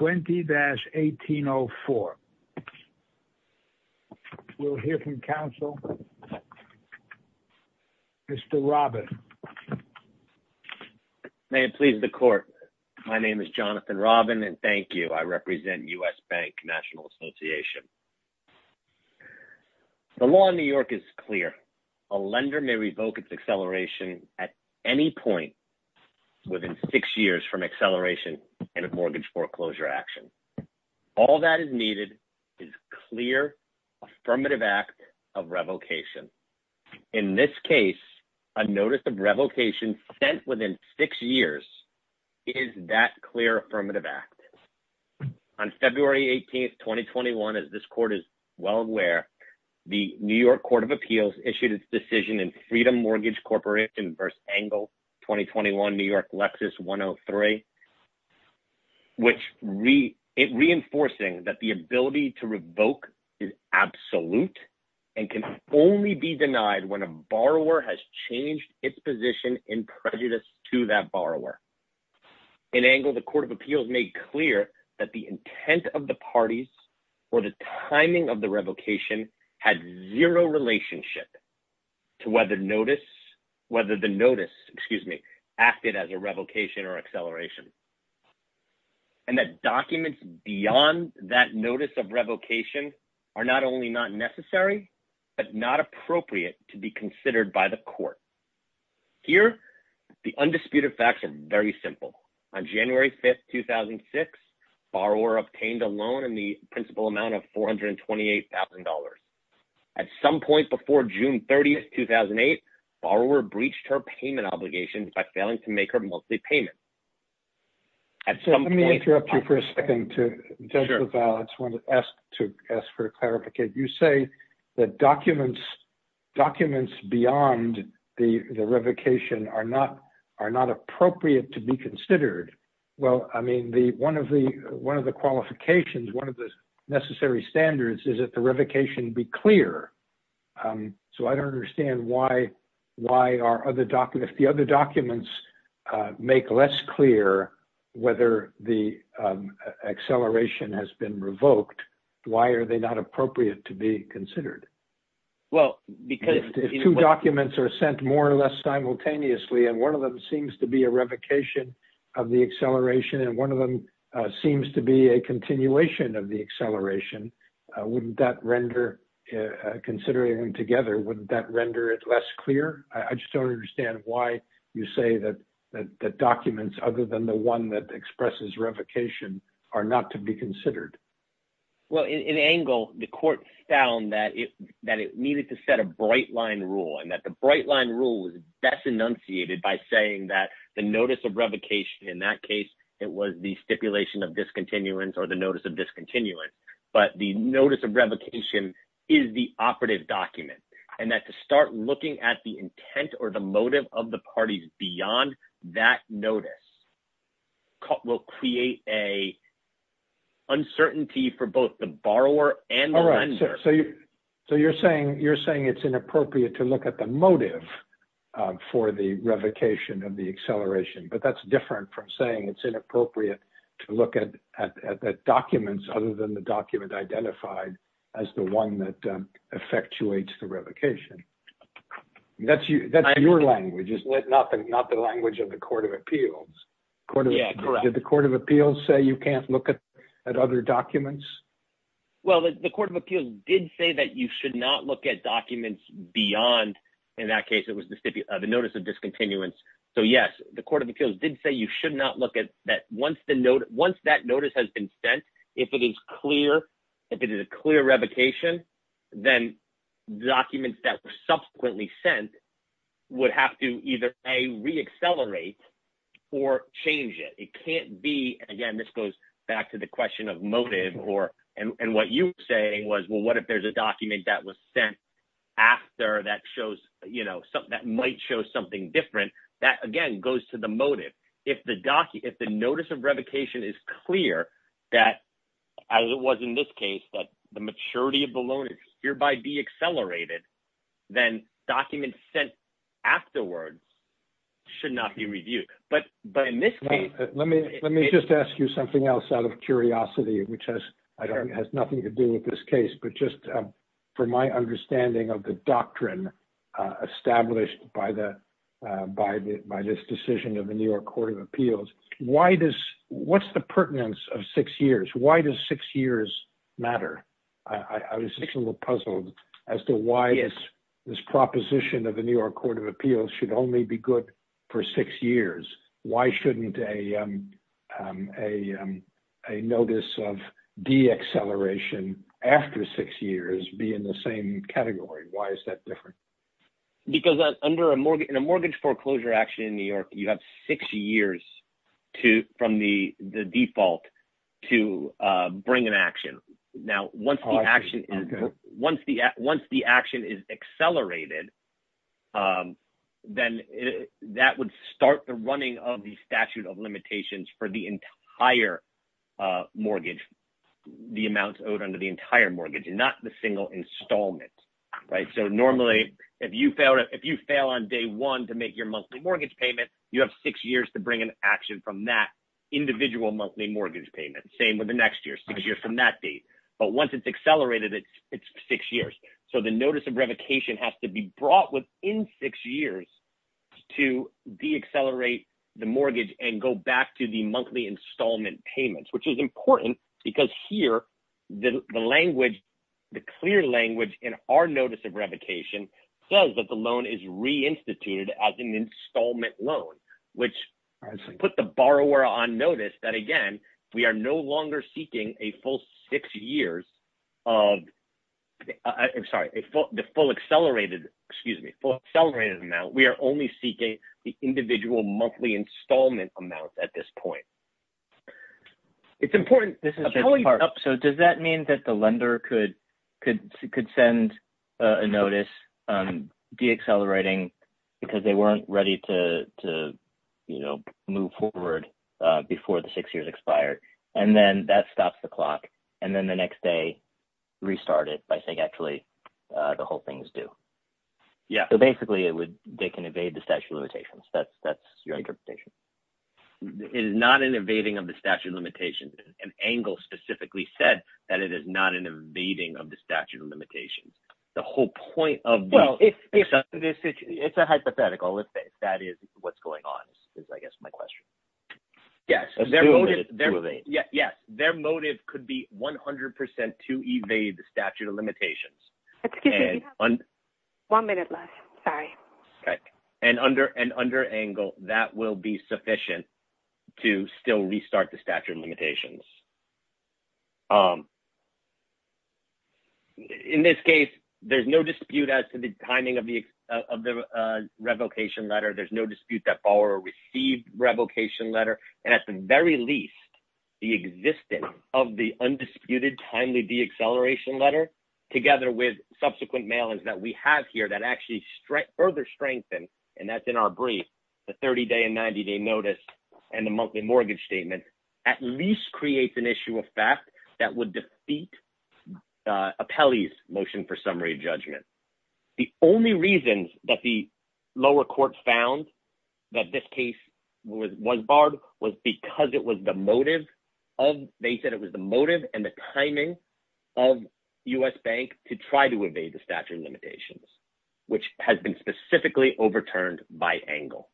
20-1804. We'll hear from counsel. Mr. Robin. May it please the court. My name is Jonathan Robin and thank you. I represent U.S. Bank National Association. The law in New York is clear. A lender may revoke its acceleration at any point within six years from acceleration in a mortgage foreclosure action. All that is needed is clear, affirmative act of revocation. In this case, a notice of revocation sent within six years is that clear, affirmative act. On February 18th, 2021, as this court is well aware, the New York Court of Appeals issued its decision in Freedom Mortgage Corporation v. Engel 2021, New York, Lexus 103, which reinforcing that the ability to revoke is absolute and can only be denied when a borrower has changed its position in prejudice to that borrower. In Engel, the Court of Appeals made clear that the intent of the parties or the timing of the revocation had zero relationship to whether the notice acted as a revocation or acceleration. And that documents beyond that notice of revocation are not only not necessary, but not appropriate to be considered by the court. Here, the undisputed facts are very simple. On January 5th, 2006, borrower obtained a loan in the principal amount of $428,000. At some point before June 30th, 2008, borrower breached her payment obligations by failing to make her monthly payment. Let me interrupt you for a second to ask for clarification. You say that documents beyond the revocation are not appropriate to be considered. Well, I mean, one of the qualifications, one of the necessary standards is that the revocation be clear. So I don't understand why are other documents, if the other documents make less clear whether the acceleration has been revoked, why are they not appropriate to be considered? If two documents are sent more or less simultaneously and one of them seems to be a revocation of the acceleration and one of them seems to be a continuation of the acceleration, wouldn't that render, considering them together, wouldn't that render it less clear? I just don't understand why you say that documents other than the one that expresses revocation are not to be considered. Well, in Angle, the court found that it needed to set a bright line rule and that the bright line rule was best enunciated by saying that the notice of revocation, in that case, it was the stipulation of discontinuance or the notice of discontinuance. But the notice of revocation is the operative document and that to start looking at the intent or the motive of the parties beyond that notice will create an uncertainty for both the borrower and the lender. So you're saying it's inappropriate to look at the motive for the revocation of the acceleration, but that's different from saying it's inappropriate to look at documents other than the document identified as the one that effectuates the revocation. That's your language, not the language of the Court of Appeals. Yeah, correct. Did the Court of Appeals say you can't look at other documents? Well, the Court of Appeals did say that you should not look at documents beyond, in that case, it was the notice of discontinuance. So, yes, the Court of Appeals did say you should not look at that. Once that notice has been sent, if it is clear, if it is a clear revocation, then documents that were subsequently sent would have to either, A, reaccelerate or change it. Again, this goes back to the question of motive and what you were saying was, well, what if there's a document that was sent after that might show something different? That, again, goes to the motive. If the notice of revocation is clear, as it was in this case, but the maturity of the loan is hereby deaccelerated, then documents sent afterwards should not be reviewed. Let me just ask you something else out of curiosity, which has nothing to do with this case. But just from my understanding of the doctrine established by this decision of the New York Court of Appeals, what's the pertinence of six years? Why does six years matter? I was a little puzzled as to why this proposition of the New York Court of Appeals should only be good for six years. Why shouldn't a notice of deacceleration after six years be in the same category? Why is that different? Because in a mortgage foreclosure action in New York, you have six years from the default to bring an action. Now, once the action is accelerated, then that would start the running of the statute of limitations for the entire mortgage, the amounts owed under the entire mortgage and not the single installment. So normally, if you fail on day one to make your monthly mortgage payment, you have six years to bring an action from that individual monthly mortgage payment. Same with the next year, six years from that date. But once it's accelerated, it's six years. So the notice of revocation has to be brought within six years to deaccelerate the mortgage and go back to the monthly installment payments, which is important because here the language, the clear language in our notice of revocation says that the loan is reinstituted as an installment loan. Which puts the borrower on notice that, again, we are no longer seeking a full six years of the full accelerated amount. We are only seeking the individual monthly installment amount at this point. It's important. So does that mean that the lender could send a notice deaccelerating because they weren't ready to move forward before the six years expired? And then that stops the clock. And then the next day, restart it by saying, actually, the whole thing is due. Yeah. So basically, they can evade the statute of limitations. That's your interpretation. It is not an evading of the statute of limitations. And Angle specifically said that it is not an evading of the statute of limitations. The whole point of this, it's a hypothetical. If that is what's going on is, I guess, my question. Yes. Yes. Their motive could be 100% to evade the statute of limitations. Excuse me. One minute left. Sorry. Okay. And under Angle, that will be sufficient to still restart the statute of limitations. In this case, there's no dispute as to the timing of the revocation letter. There's no dispute that follower received revocation letter. And at the very least, the existence of the undisputed timely deacceleration letter, together with subsequent mailings that we have here that actually further strengthen, and that's in our brief, the 30-day and 90-day notice, and the monthly mortgage statement, at least creates an issue of fact that would defeat Apelli's motion for summary judgment. The only reason that the lower court found that this case was barred was because it was the motive of, they said it was the motive and the timing of U.S. Bank to try to evade the statute of limitations, which has been specifically overturned by Angle.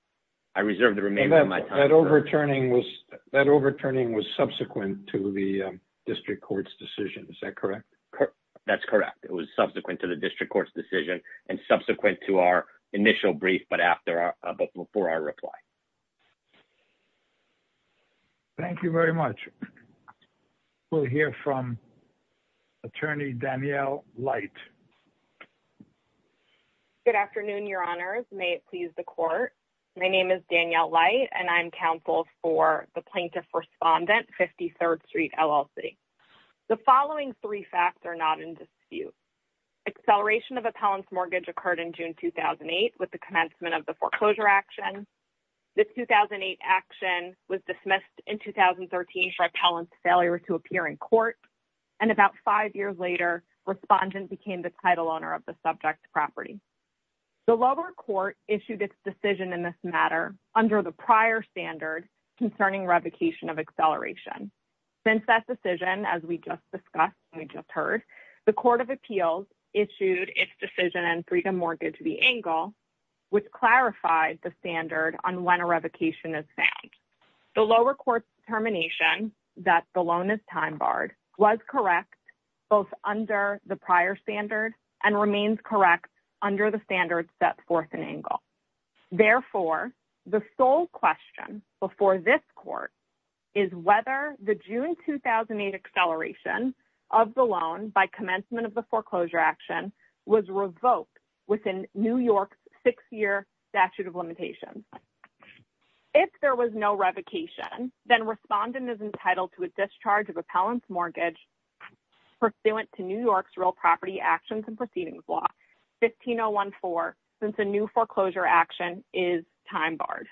I reserve the remainder of my time. That overturning was subsequent to the district court's decision. Is that correct? That's correct. It was subsequent to the district court's decision and subsequent to our initial brief, but before our reply. Thank you very much. We'll hear from attorney Danielle Light. Good afternoon, your honors. May it please the court. My name is Danielle Light, and I'm counsel for the plaintiff respondent, 53rd Street, LLC. The following three facts are not in dispute. Acceleration of Apelli's mortgage occurred in June 2008 with the commencement of the foreclosure action. The 2008 action was dismissed in 2013 for Apelli's failure to appear in court, and about five years later, respondent became the title owner of the subject property. The lower court issued its decision in this matter under the prior standard concerning revocation of acceleration. Since that decision, as we just discussed and we just heard, the court of appeals issued its decision in Freedom Mortgage v. Angle, which clarified the standard on when a revocation is found. The lower court's determination that the loan is time barred was correct both under the prior standard and remains correct under the standard set forth in Angle. Therefore, the sole question before this court is whether the June 2008 acceleration of the loan by commencement of the foreclosure action was revoked within New York's six-year statute of limitations. If there was no revocation, then respondent is entitled to a discharge of appellant's mortgage pursuant to New York's real property actions and proceedings law, 15014, since a new foreclosure action is time barred.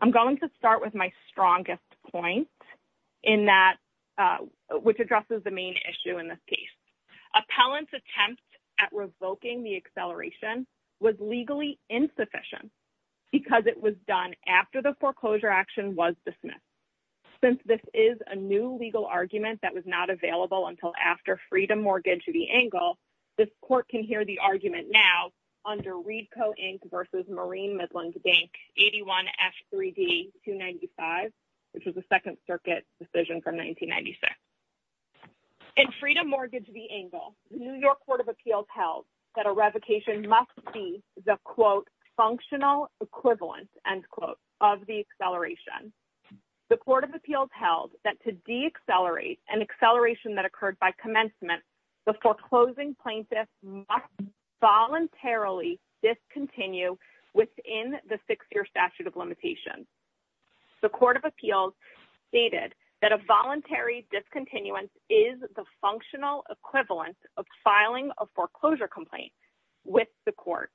I'm going to start with my strongest point, which addresses the main issue in this case. Appellant's attempt at revoking the acceleration was legally insufficient because it was done after the foreclosure action was dismissed. Since this is a new legal argument that was not available until after Freedom Mortgage v. Angle, this court can hear the argument now under Reedco, Inc. versus Marine Midlands Bank, 81F3D295, which was a Second Circuit decision from 1996. In Freedom Mortgage v. Angle, New York Court of Appeals held that a revocation must be the, quote, functional equivalent, end quote, of the acceleration. The Court of Appeals held that to deaccelerate an acceleration that occurred by commencement, the foreclosing plaintiff must voluntarily discontinue within the six-year statute of limitations. The Court of Appeals stated that a voluntary discontinuance is the functional equivalent of filing a foreclosure complaint with the court.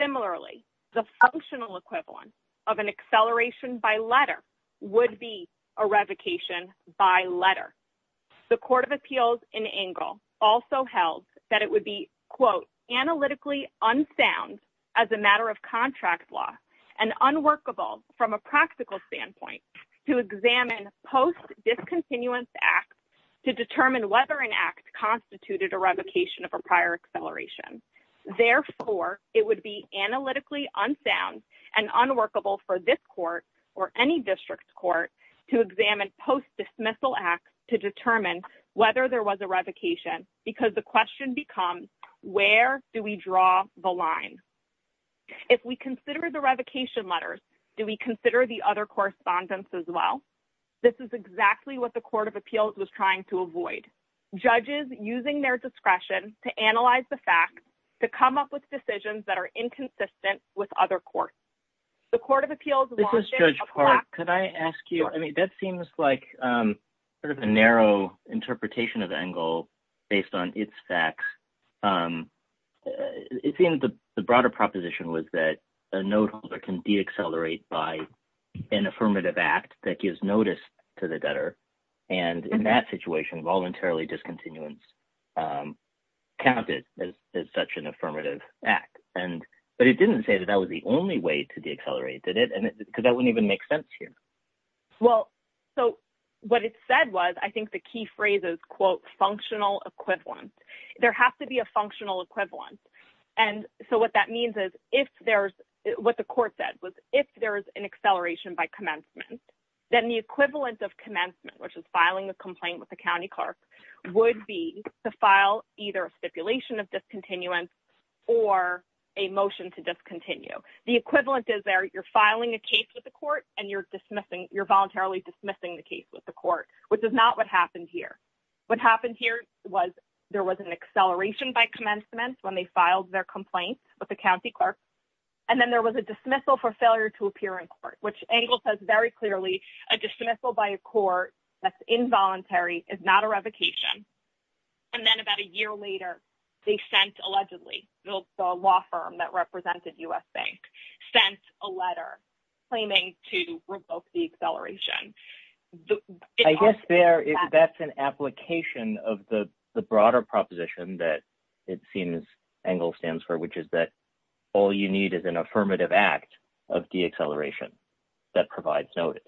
Similarly, the functional equivalent of an acceleration by letter would be a revocation by letter. The Court of Appeals in Angle also held that it would be, quote, analytically unsound as a matter of contract law and unworkable from a practical standpoint to examine post-discontinuance acts to determine whether an act constituted a revocation of a prior acceleration. Therefore, it would be analytically unsound and unworkable for this court or any district court to examine post-dismissal acts to determine whether there was a revocation because the question becomes, where do we draw the line? If we consider the revocation letters, do we consider the other correspondence as well? This is exactly what the Court of Appeals was trying to avoid. Judges using their discretion to analyze the facts to come up with decisions that are inconsistent with other courts. The Court of Appeals wanted a plaque. This is Judge Park. Could I ask you, I mean, that seems like sort of a narrow interpretation of Angle based on its facts. It seems the broader proposition was that a noteholder can deaccelerate by an affirmative act that gives notice to the debtor. And in that situation, voluntarily discontinuance counted as such an affirmative act. But it didn't say that that was the only way to deaccelerate, did it? Because that wouldn't even make sense here. Well, so what it said was, I think the key phrase is, quote, functional equivalence. There has to be a functional equivalence. And so what that means is if there's what the court said was if there is an acceleration by commencement, then the equivalent of commencement, which is filing a complaint with the county clerk, would be to file either a stipulation of discontinuance or a motion to discontinue. The equivalent is there you're filing a case with the court and you're dismissing, you're voluntarily dismissing the case with the court, which is not what happened here. What happened here was there was an acceleration by commencement when they filed their complaint with the county clerk. And then there was a dismissal for failure to appear in court, which Angle says very clearly, a dismissal by a court that's involuntary is not a revocation. And then about a year later, they sent, allegedly, the law firm that represented U.S. Bank, sent a letter claiming to revoke the acceleration. I guess that's an application of the broader proposition that it seems Angle stands for, which is that all you need is an affirmative act of deacceleration that provides notice.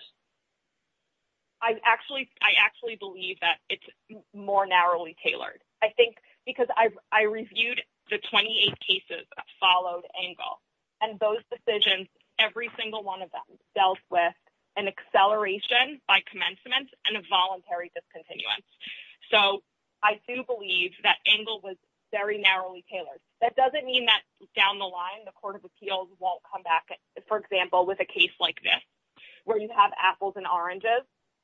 I actually believe that it's more narrowly tailored. I think because I reviewed the 28 cases that followed Angle and those decisions, every single one of them dealt with an acceleration by commencement and a voluntary discontinuance. So I do believe that Angle was very narrowly tailored. That doesn't mean that down the line, the Court of Appeals won't come back, for example, with a case like this, where you have apples and oranges,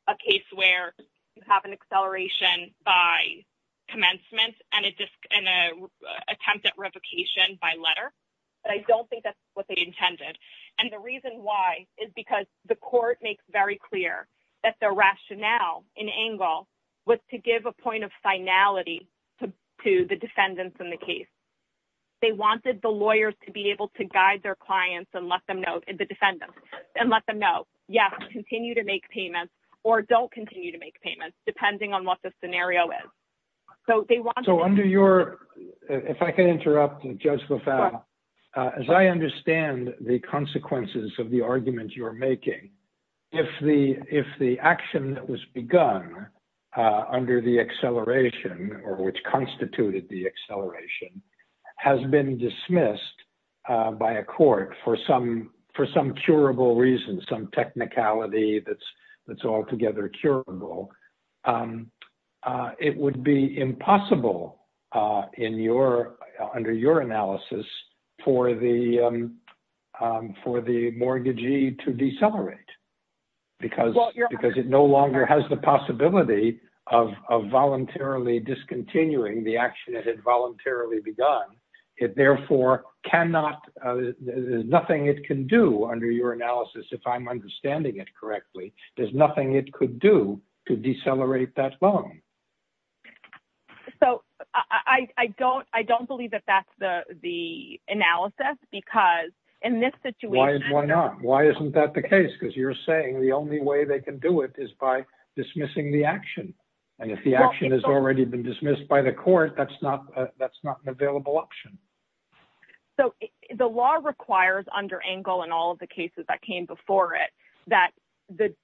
a case where you have an acceleration by commencement and an attempt at revocation by letter. But I don't think that's what they intended. And the reason why is because the court makes very clear that their rationale in Angle was to give a point of finality to the defendants in the case. They wanted the lawyers to be able to guide their clients and let them know, the defendants, and let them know, yes, continue to make payments or don't continue to make payments, depending on what the scenario is. So under your – if I can interrupt, Judge LaFave, as I understand the consequences of the argument you're making, if the action that was begun under the acceleration or which constituted the acceleration has been dismissed by a court for some curable reason, some technicality that's altogether curable, it would be impossible under your analysis for the mortgagee to decelerate because it no longer has the possibility of voluntarily discontinuing the action it had voluntarily begun. It therefore cannot – there's nothing it can do under your analysis, if I'm understanding it correctly. There's nothing it could do to decelerate that loan. So I don't believe that that's the analysis because in this situation – So the law requires under Angle and all of the cases that came before it that the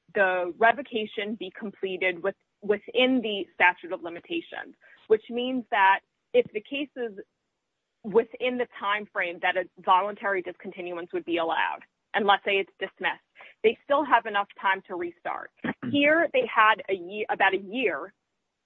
revocation be completed within the statute of limitations, which means that if the cases within the timeframe that a voluntary discontinuance would be allowed, and let's say it's dismissed, they still have enough time to restart. Here they had about a year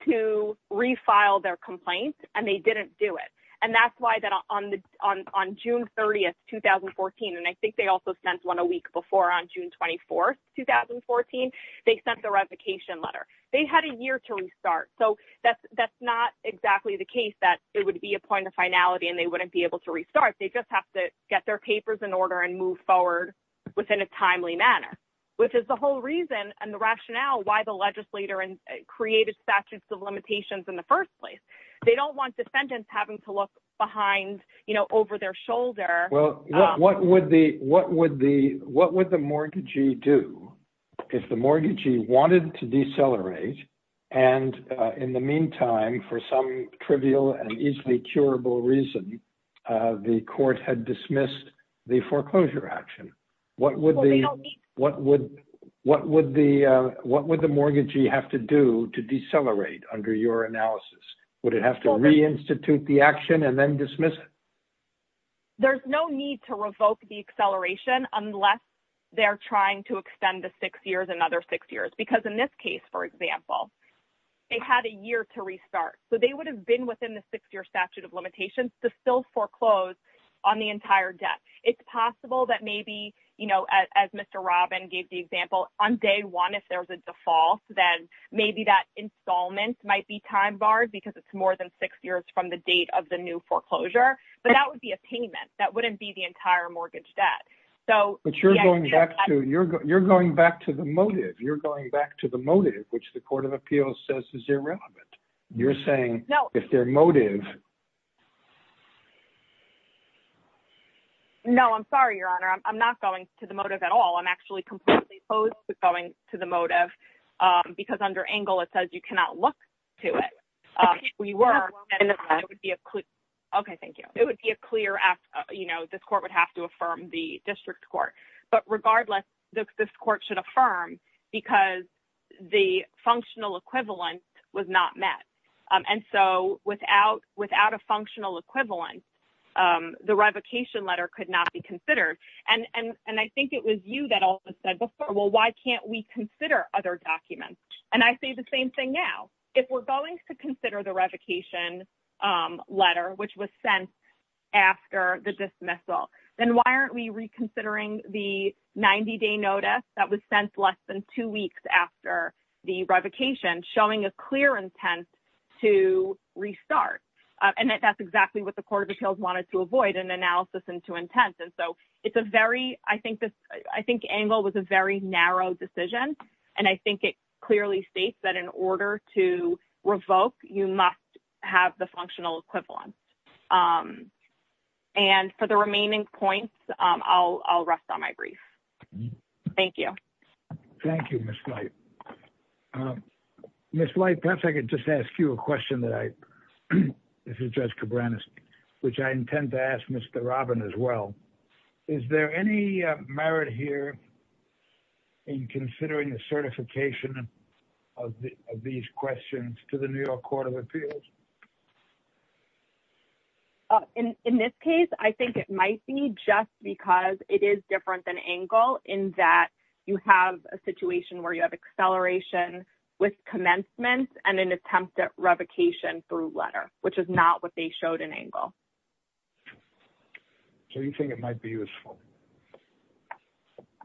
to refile their complaint, and they didn't do it. And that's why on June 30, 2014, and I think they also sent one a week before on June 24, 2014, they sent the revocation letter. They had a year to restart. So that's not exactly the case that it would be a point of finality and they wouldn't be able to restart. They just have to get their papers in order and move forward within a timely manner, which is the whole reason and the rationale why the legislator created statutes of limitations in the first place. They don't want defendants having to look behind, you know, over their shoulder. Well, what would the mortgagee do if the mortgagee wanted to decelerate? And in the meantime, for some trivial and easily curable reason, the court had dismissed the foreclosure action. What would the mortgagee have to do to decelerate under your analysis? Would it have to reinstitute the action and then dismiss it? There's no need to revoke the acceleration unless they're trying to extend the six years, another six years, because in this case, for example, they had a year to restart. So they would have been within the six-year statute of limitations to still foreclose on the entire debt. It's possible that maybe, you know, as Mr. Robin gave the example, on day one, if there's a default, then maybe that installment might be time barred because it's more than six years from the date of the new foreclosure. But that would be a payment. That wouldn't be the entire mortgage debt. But you're going back to the motive. You're going back to the motive, which the Court of Appeals says is irrelevant. You're saying if their motive... No, I'm sorry, Your Honor. I'm not going to the motive at all. I'm actually completely opposed to going to the motive because under Engle it says you cannot look to it. Okay, thank you. It would be a clear act, you know, this court would have to affirm the district court. But regardless, this court should affirm because the functional equivalent was not met. And so without a functional equivalent, the revocation letter could not be considered. And I think it was you that also said before, well, why can't we consider other documents? And I say the same thing now. If we're going to consider the revocation letter, which was sent after the dismissal, then why aren't we reconsidering the 90-day notice that was sent less than two weeks after the revocation, showing a clear intent to restart? And that's exactly what the Court of Appeals wanted to avoid, an analysis into intent. And so it's a very... I think Engle was a very narrow decision. And I think it clearly states that in order to revoke, you must have the functional equivalent. And for the remaining points, I'll rest on my brief. Thank you. Thank you, Ms. White. Ms. White, perhaps I could just ask you a question that I... This is Judge Cabranes, which I intend to ask Mr. Robin as well. Is there any merit here in considering the certification of these questions to the New York Court of Appeals? In this case, I think it might be just because it is different than Engle in that you have a situation where you have acceleration with commencement and an attempt at revocation through letter, which is not what they showed in Engle. So you think it might be useful?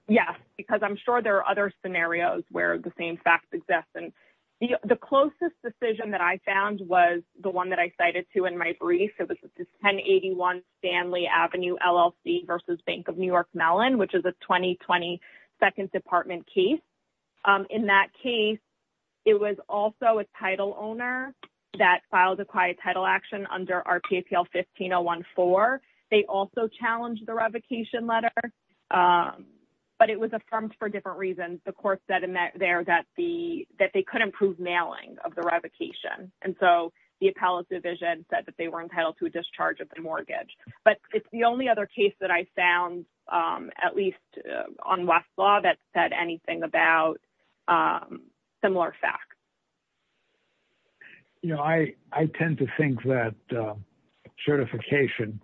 Yes, because I'm sure there are other scenarios where the same facts exist. And the closest decision that I found was the one that I cited, too, in my brief. It was the 1081 Stanley Avenue LLC versus Bank of New York Mellon, which is a 2020 Second Department case. In that case, it was also a title owner that filed the quiet title action under RPAPL 15014. They also challenged the revocation letter, but it was affirmed for different reasons. The court said there that they couldn't prove mailing of the revocation. And so the appellate division said that they were entitled to a discharge of the mortgage. But it's the only other case that I found, at least on Westlaw, that said anything about similar facts. You know, I tend to think that certification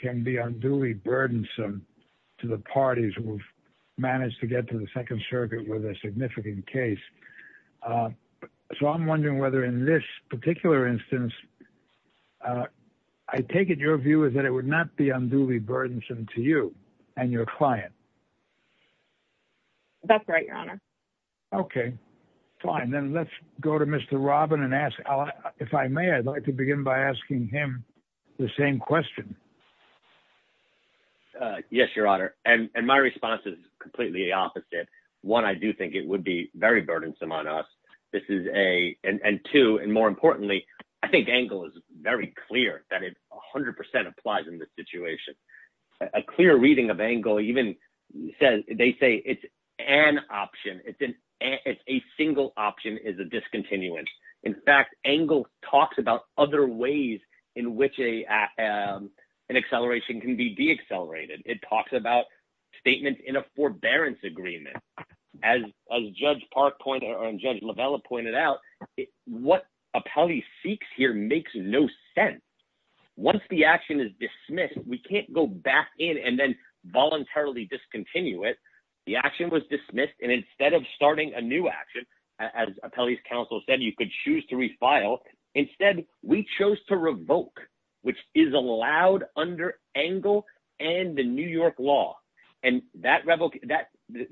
can be unduly burdensome to the parties who've managed to get to the Second Circuit with a significant case. So I'm wondering whether in this particular instance, I take it your view is that it would not be unduly burdensome to you and your client. That's right, Your Honor. Okay, fine. Then let's go to Mr. Robin and ask. If I may, I'd like to begin by asking him the same question. Yes, Your Honor. And my response is completely the opposite. One, I do think it would be very burdensome on us. And two, and more importantly, I think Engel is very clear that it 100% applies in this situation. A clear reading of Engel even says, they say it's an option. It's a single option is a discontinuance. In fact, Engel talks about other ways in which an acceleration can be deaccelerated. It talks about statements in a forbearance agreement. As Judge Park pointed, or Judge Lavella pointed out, what appellee seeks here makes no sense. Once the action is dismissed, we can't go back in and then voluntarily discontinue it. The action was dismissed, and instead of starting a new action, as appellee's counsel said, you could choose to refile. Instead, we chose to revoke, which is allowed under Engel and the New York law. And that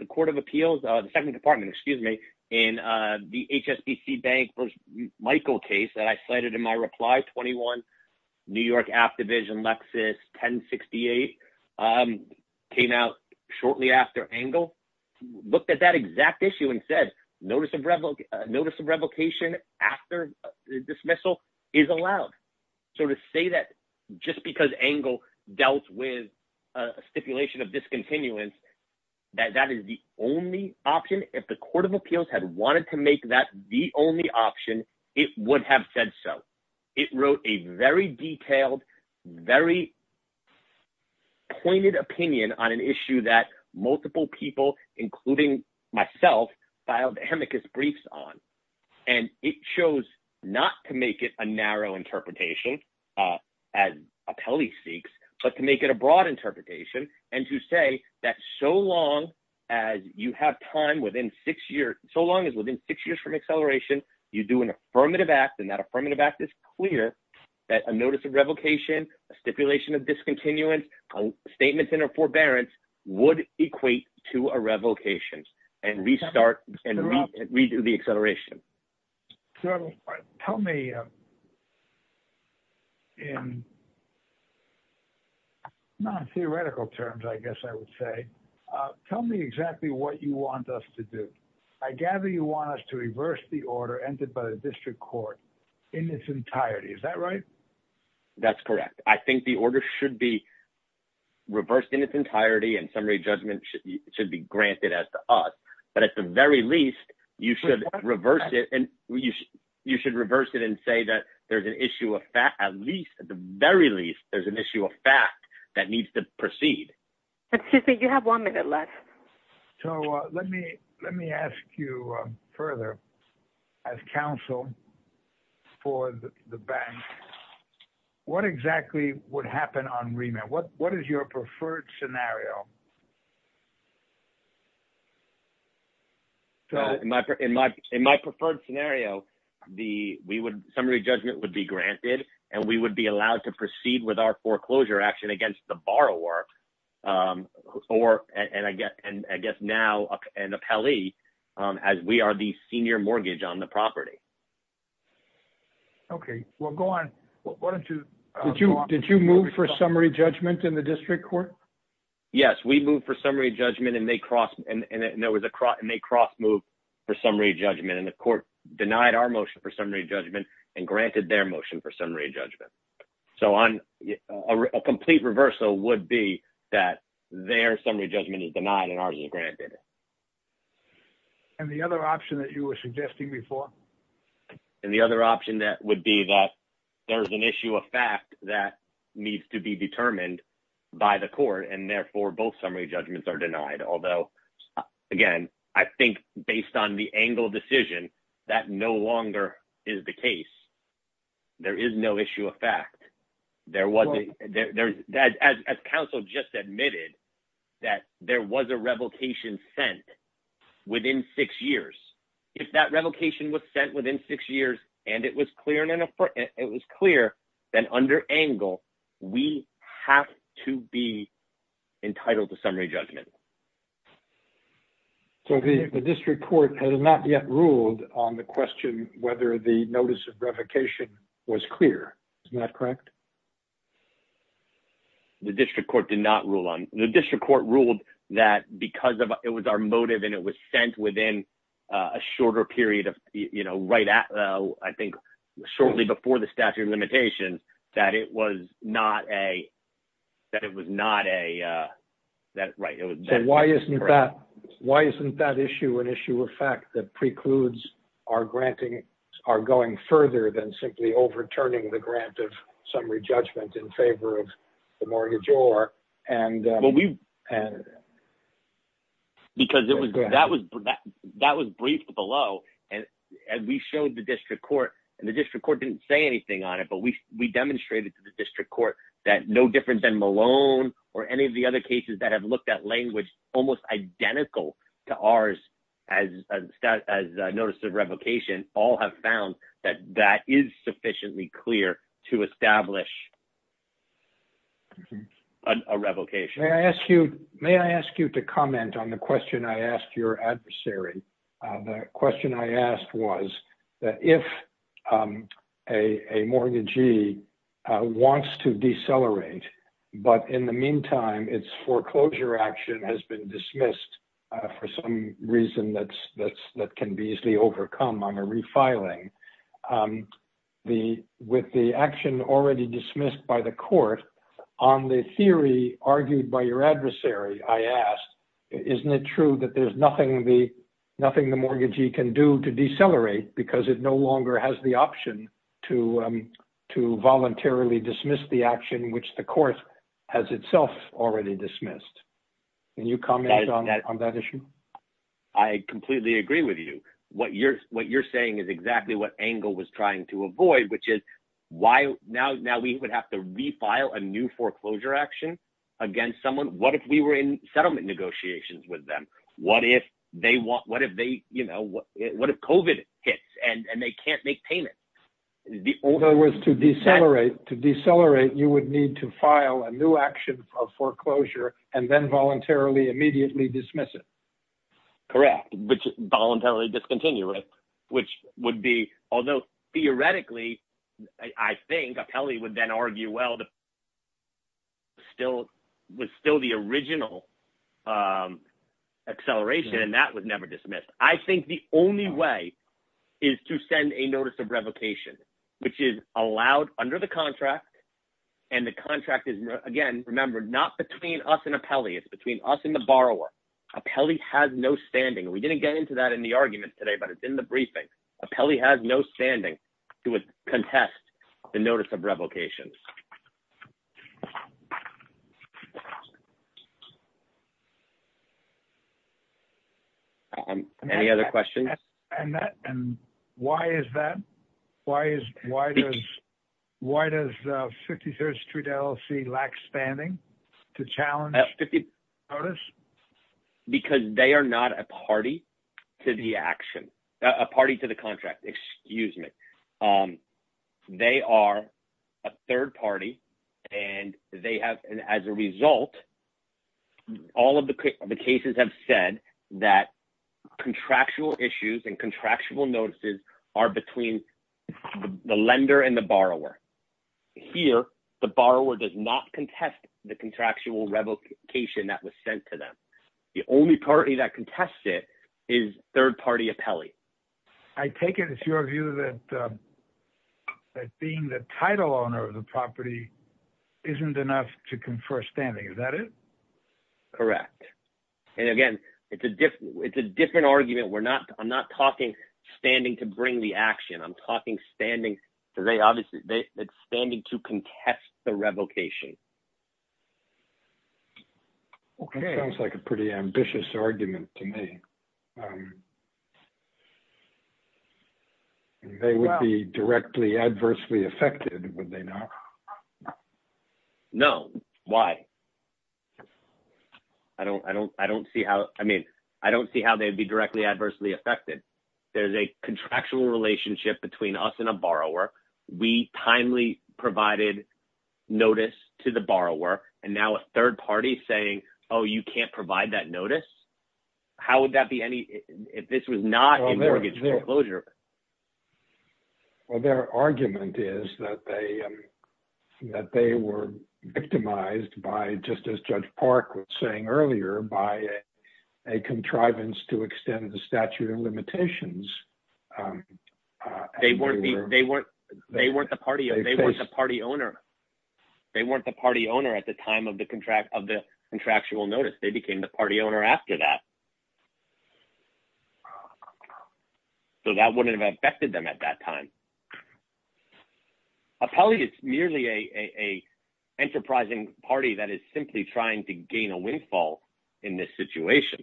court of appeals, the second department, excuse me, in the HSBC Bank v. Michael case that I cited in my reply, 21, New York App Division, Lexus 1068, came out shortly after Engel. Looked at that exact issue and said, notice of revocation after dismissal is allowed. So to say that just because Engel dealt with a stipulation of discontinuance, that that is the only option, if the court of appeals had wanted to make that the only option, it would have said so. It wrote a very detailed, very pointed opinion on an issue that multiple people, including myself, filed amicus briefs on. And it chose not to make it a narrow interpretation, as appellee seeks, but to make it a broad interpretation and to say that so long as you have time within six years – so long as within six years from acceleration, you do an affirmative act. And that affirmative act is clear that a notice of revocation, a stipulation of discontinuance, a statement in a forbearance would equate to a revocation and restart and redo the acceleration. So tell me in non-theoretical terms, I guess I would say, tell me exactly what you want us to do. I gather you want us to reverse the order entered by the district court in its entirety. Is that right? That's correct. I think the order should be reversed in its entirety, and summary judgment should be granted as to us. But at the very least, you should reverse it and say that there's an issue of fact – at least, at the very least, there's an issue of fact that needs to proceed. Excuse me, you have one minute left. So let me ask you further. As counsel for the bank, what exactly would happen on remand? What is your preferred scenario? In my preferred scenario, the – we would – summary judgment would be granted, and we would be allowed to proceed with our foreclosure action against the borrower or – and I guess now an appellee as we are the senior mortgage on the property. Okay. Well, go on. Why don't you – Did you move for summary judgment in the district court? Yes, we moved for summary judgment, and they cross – and there was a – and they cross-moved for summary judgment, and the court denied our motion for summary judgment and granted their motion for summary judgment. So on – a complete reversal would be that their summary judgment is denied and ours is granted. And the other option that you were suggesting before? And the other option that would be that there's an issue of fact that needs to be determined by the court, and therefore, both summary judgments are denied, although, again, I think based on the angle of decision, that no longer is the case. There is no issue of fact. There was – as counsel just admitted, that there was a revocation sent within six years. If that revocation was sent within six years and it was clear and – it was clear, then under angle, we have to be entitled to summary judgment. So the district court has not yet ruled on the question whether the notice of revocation was clear. Is that correct? The district court did not rule on – the district court ruled that because of – it was our motive and it was sent within a shorter period of – you know, right at – I think shortly before the statute of limitations, that it was not a – that it was not a – that – right. Well, we – because it was – that was – that was briefed below, and we showed the district court, and the district court didn't say anything on it, but we demonstrated to the district court that no different than Malone or any of the other cases that have looked at language almost identical to ours as notice of revocation, all have found that that is sufficiently clear to establish that there is no issue of fact. A revocation. May I ask you – may I ask you to comment on the question I asked your adversary? The question I asked was that if a mortgagee wants to decelerate, but in the meantime, its foreclosure action has been dismissed for some reason that can be easily overcome on a refiling, the – with the action already dismissed by the court, on the theory argued by your adversary, I asked, isn't it true that there's nothing the – nothing the mortgagee can do to decelerate because it no longer has the option to voluntarily dismiss the action which the court has itself already dismissed? Can you comment on that issue? I completely agree with you. What you're – what you're saying is exactly what Engel was trying to avoid, which is why – now we would have to refile a new foreclosure action against someone? What if we were in settlement negotiations with them? What if they – what if they – you know, what if COVID hits and they can't make payments? In other words, to decelerate, to decelerate, you would need to file a new action of foreclosure and then voluntarily, immediately dismiss it. Correct. Voluntarily discontinue it, which would be – although theoretically, I think, Apelli would then argue, well, the – still – was still the original acceleration, and that was never dismissed. I think the only way is to send a notice of revocation, which is allowed under the contract, and the contract is, again, remember, not between us and Apelli. It's between us and the borrower. Apelli has no standing. We didn't get into that in the argument today, but it's in the briefing. Apelli has no standing to contest the notice of revocation. Any other questions? And that – and why is that? Why is – why does – why does 53rd Street LLC lack standing to challenge the notice? Because they are not a party to the action – a party to the contract. Excuse me. They are a third party, and they have – and as a result, all of the cases have said that contractual issues and contractual notices are between the lender and the borrower. Here, the borrower does not contest the contractual revocation that was sent to them. The only party that contests it is third-party Apelli. I take it it's your view that being the title owner of the property isn't enough to confer standing. Is that it? Correct. And again, it's a different – it's a different argument. We're not – I'm not talking standing to bring the action. I'm talking standing – they obviously – it's standing to contest the revocation. Okay. That sounds like a pretty ambitious argument to me. They would be directly adversely affected, would they not? No. Why? I don't – I don't – I don't see how – I mean, I don't see how they'd be directly adversely affected. There's a contractual relationship between us and a borrower. We timely provided notice to the borrower, and now a third party is saying, oh, you can't provide that notice? How would that be any – if this was not an mortgage foreclosure? Well, their argument is that they were victimized by, just as Judge Park was saying earlier, by a contrivance to extend the statute of limitations. They weren't the party owner. They weren't the party owner at the time of the contractual notice. They became the party owner after that. So that wouldn't have affected them at that time. Appellee is merely an enterprising party that is simply trying to gain a windfall in this situation.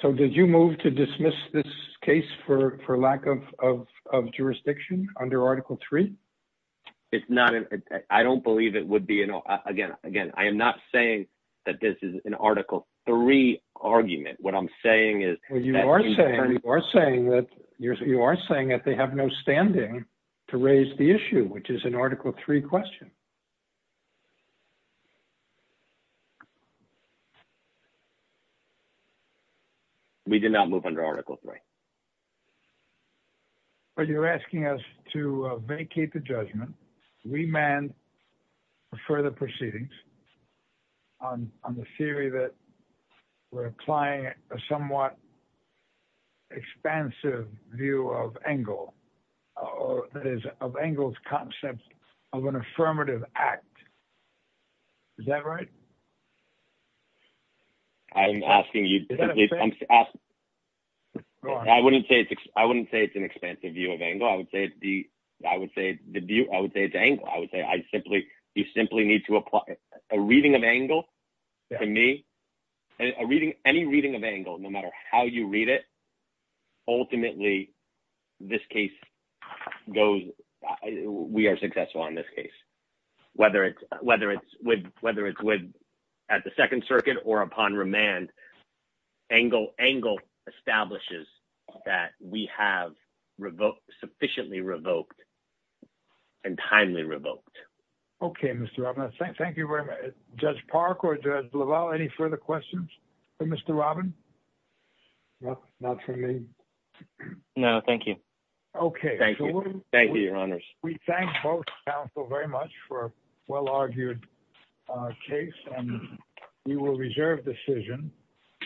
So did you move to dismiss this case for lack of jurisdiction under Article III? It's not – I don't believe it would be – again, I am not saying that this is an Article III argument. What I'm saying is – Well, you are saying – you are saying that – you are saying that they have no standing to raise the issue, which is an Article III question. We did not move under Article III. Well, you are asking us to vacate the judgment, remand for further proceedings on the theory that we are applying a somewhat expansive view of Engel – that is, of Engel's concept of an affirmative act. Is that right? I'm asking you – I wouldn't say it's an expansive view of Engel. I would say it's Engel. I would say I simply – you simply need to apply a reading of Engel to me. Any reading of Engel, no matter how you read it, ultimately, this case goes – we are successful on this case, whether it's with – at the Second Circuit or upon remand, Engel establishes that we have sufficiently revoked and timely revoked. Okay, Mr. Robbins. Thank you very much. Judge Park or Judge LaValle, any further questions for Mr. Robbins? No, not for me. No, thank you. Okay. Thank you. Thank you, Your Honors. We thank both counsel very much for a well-argued case, and we will reserve decision.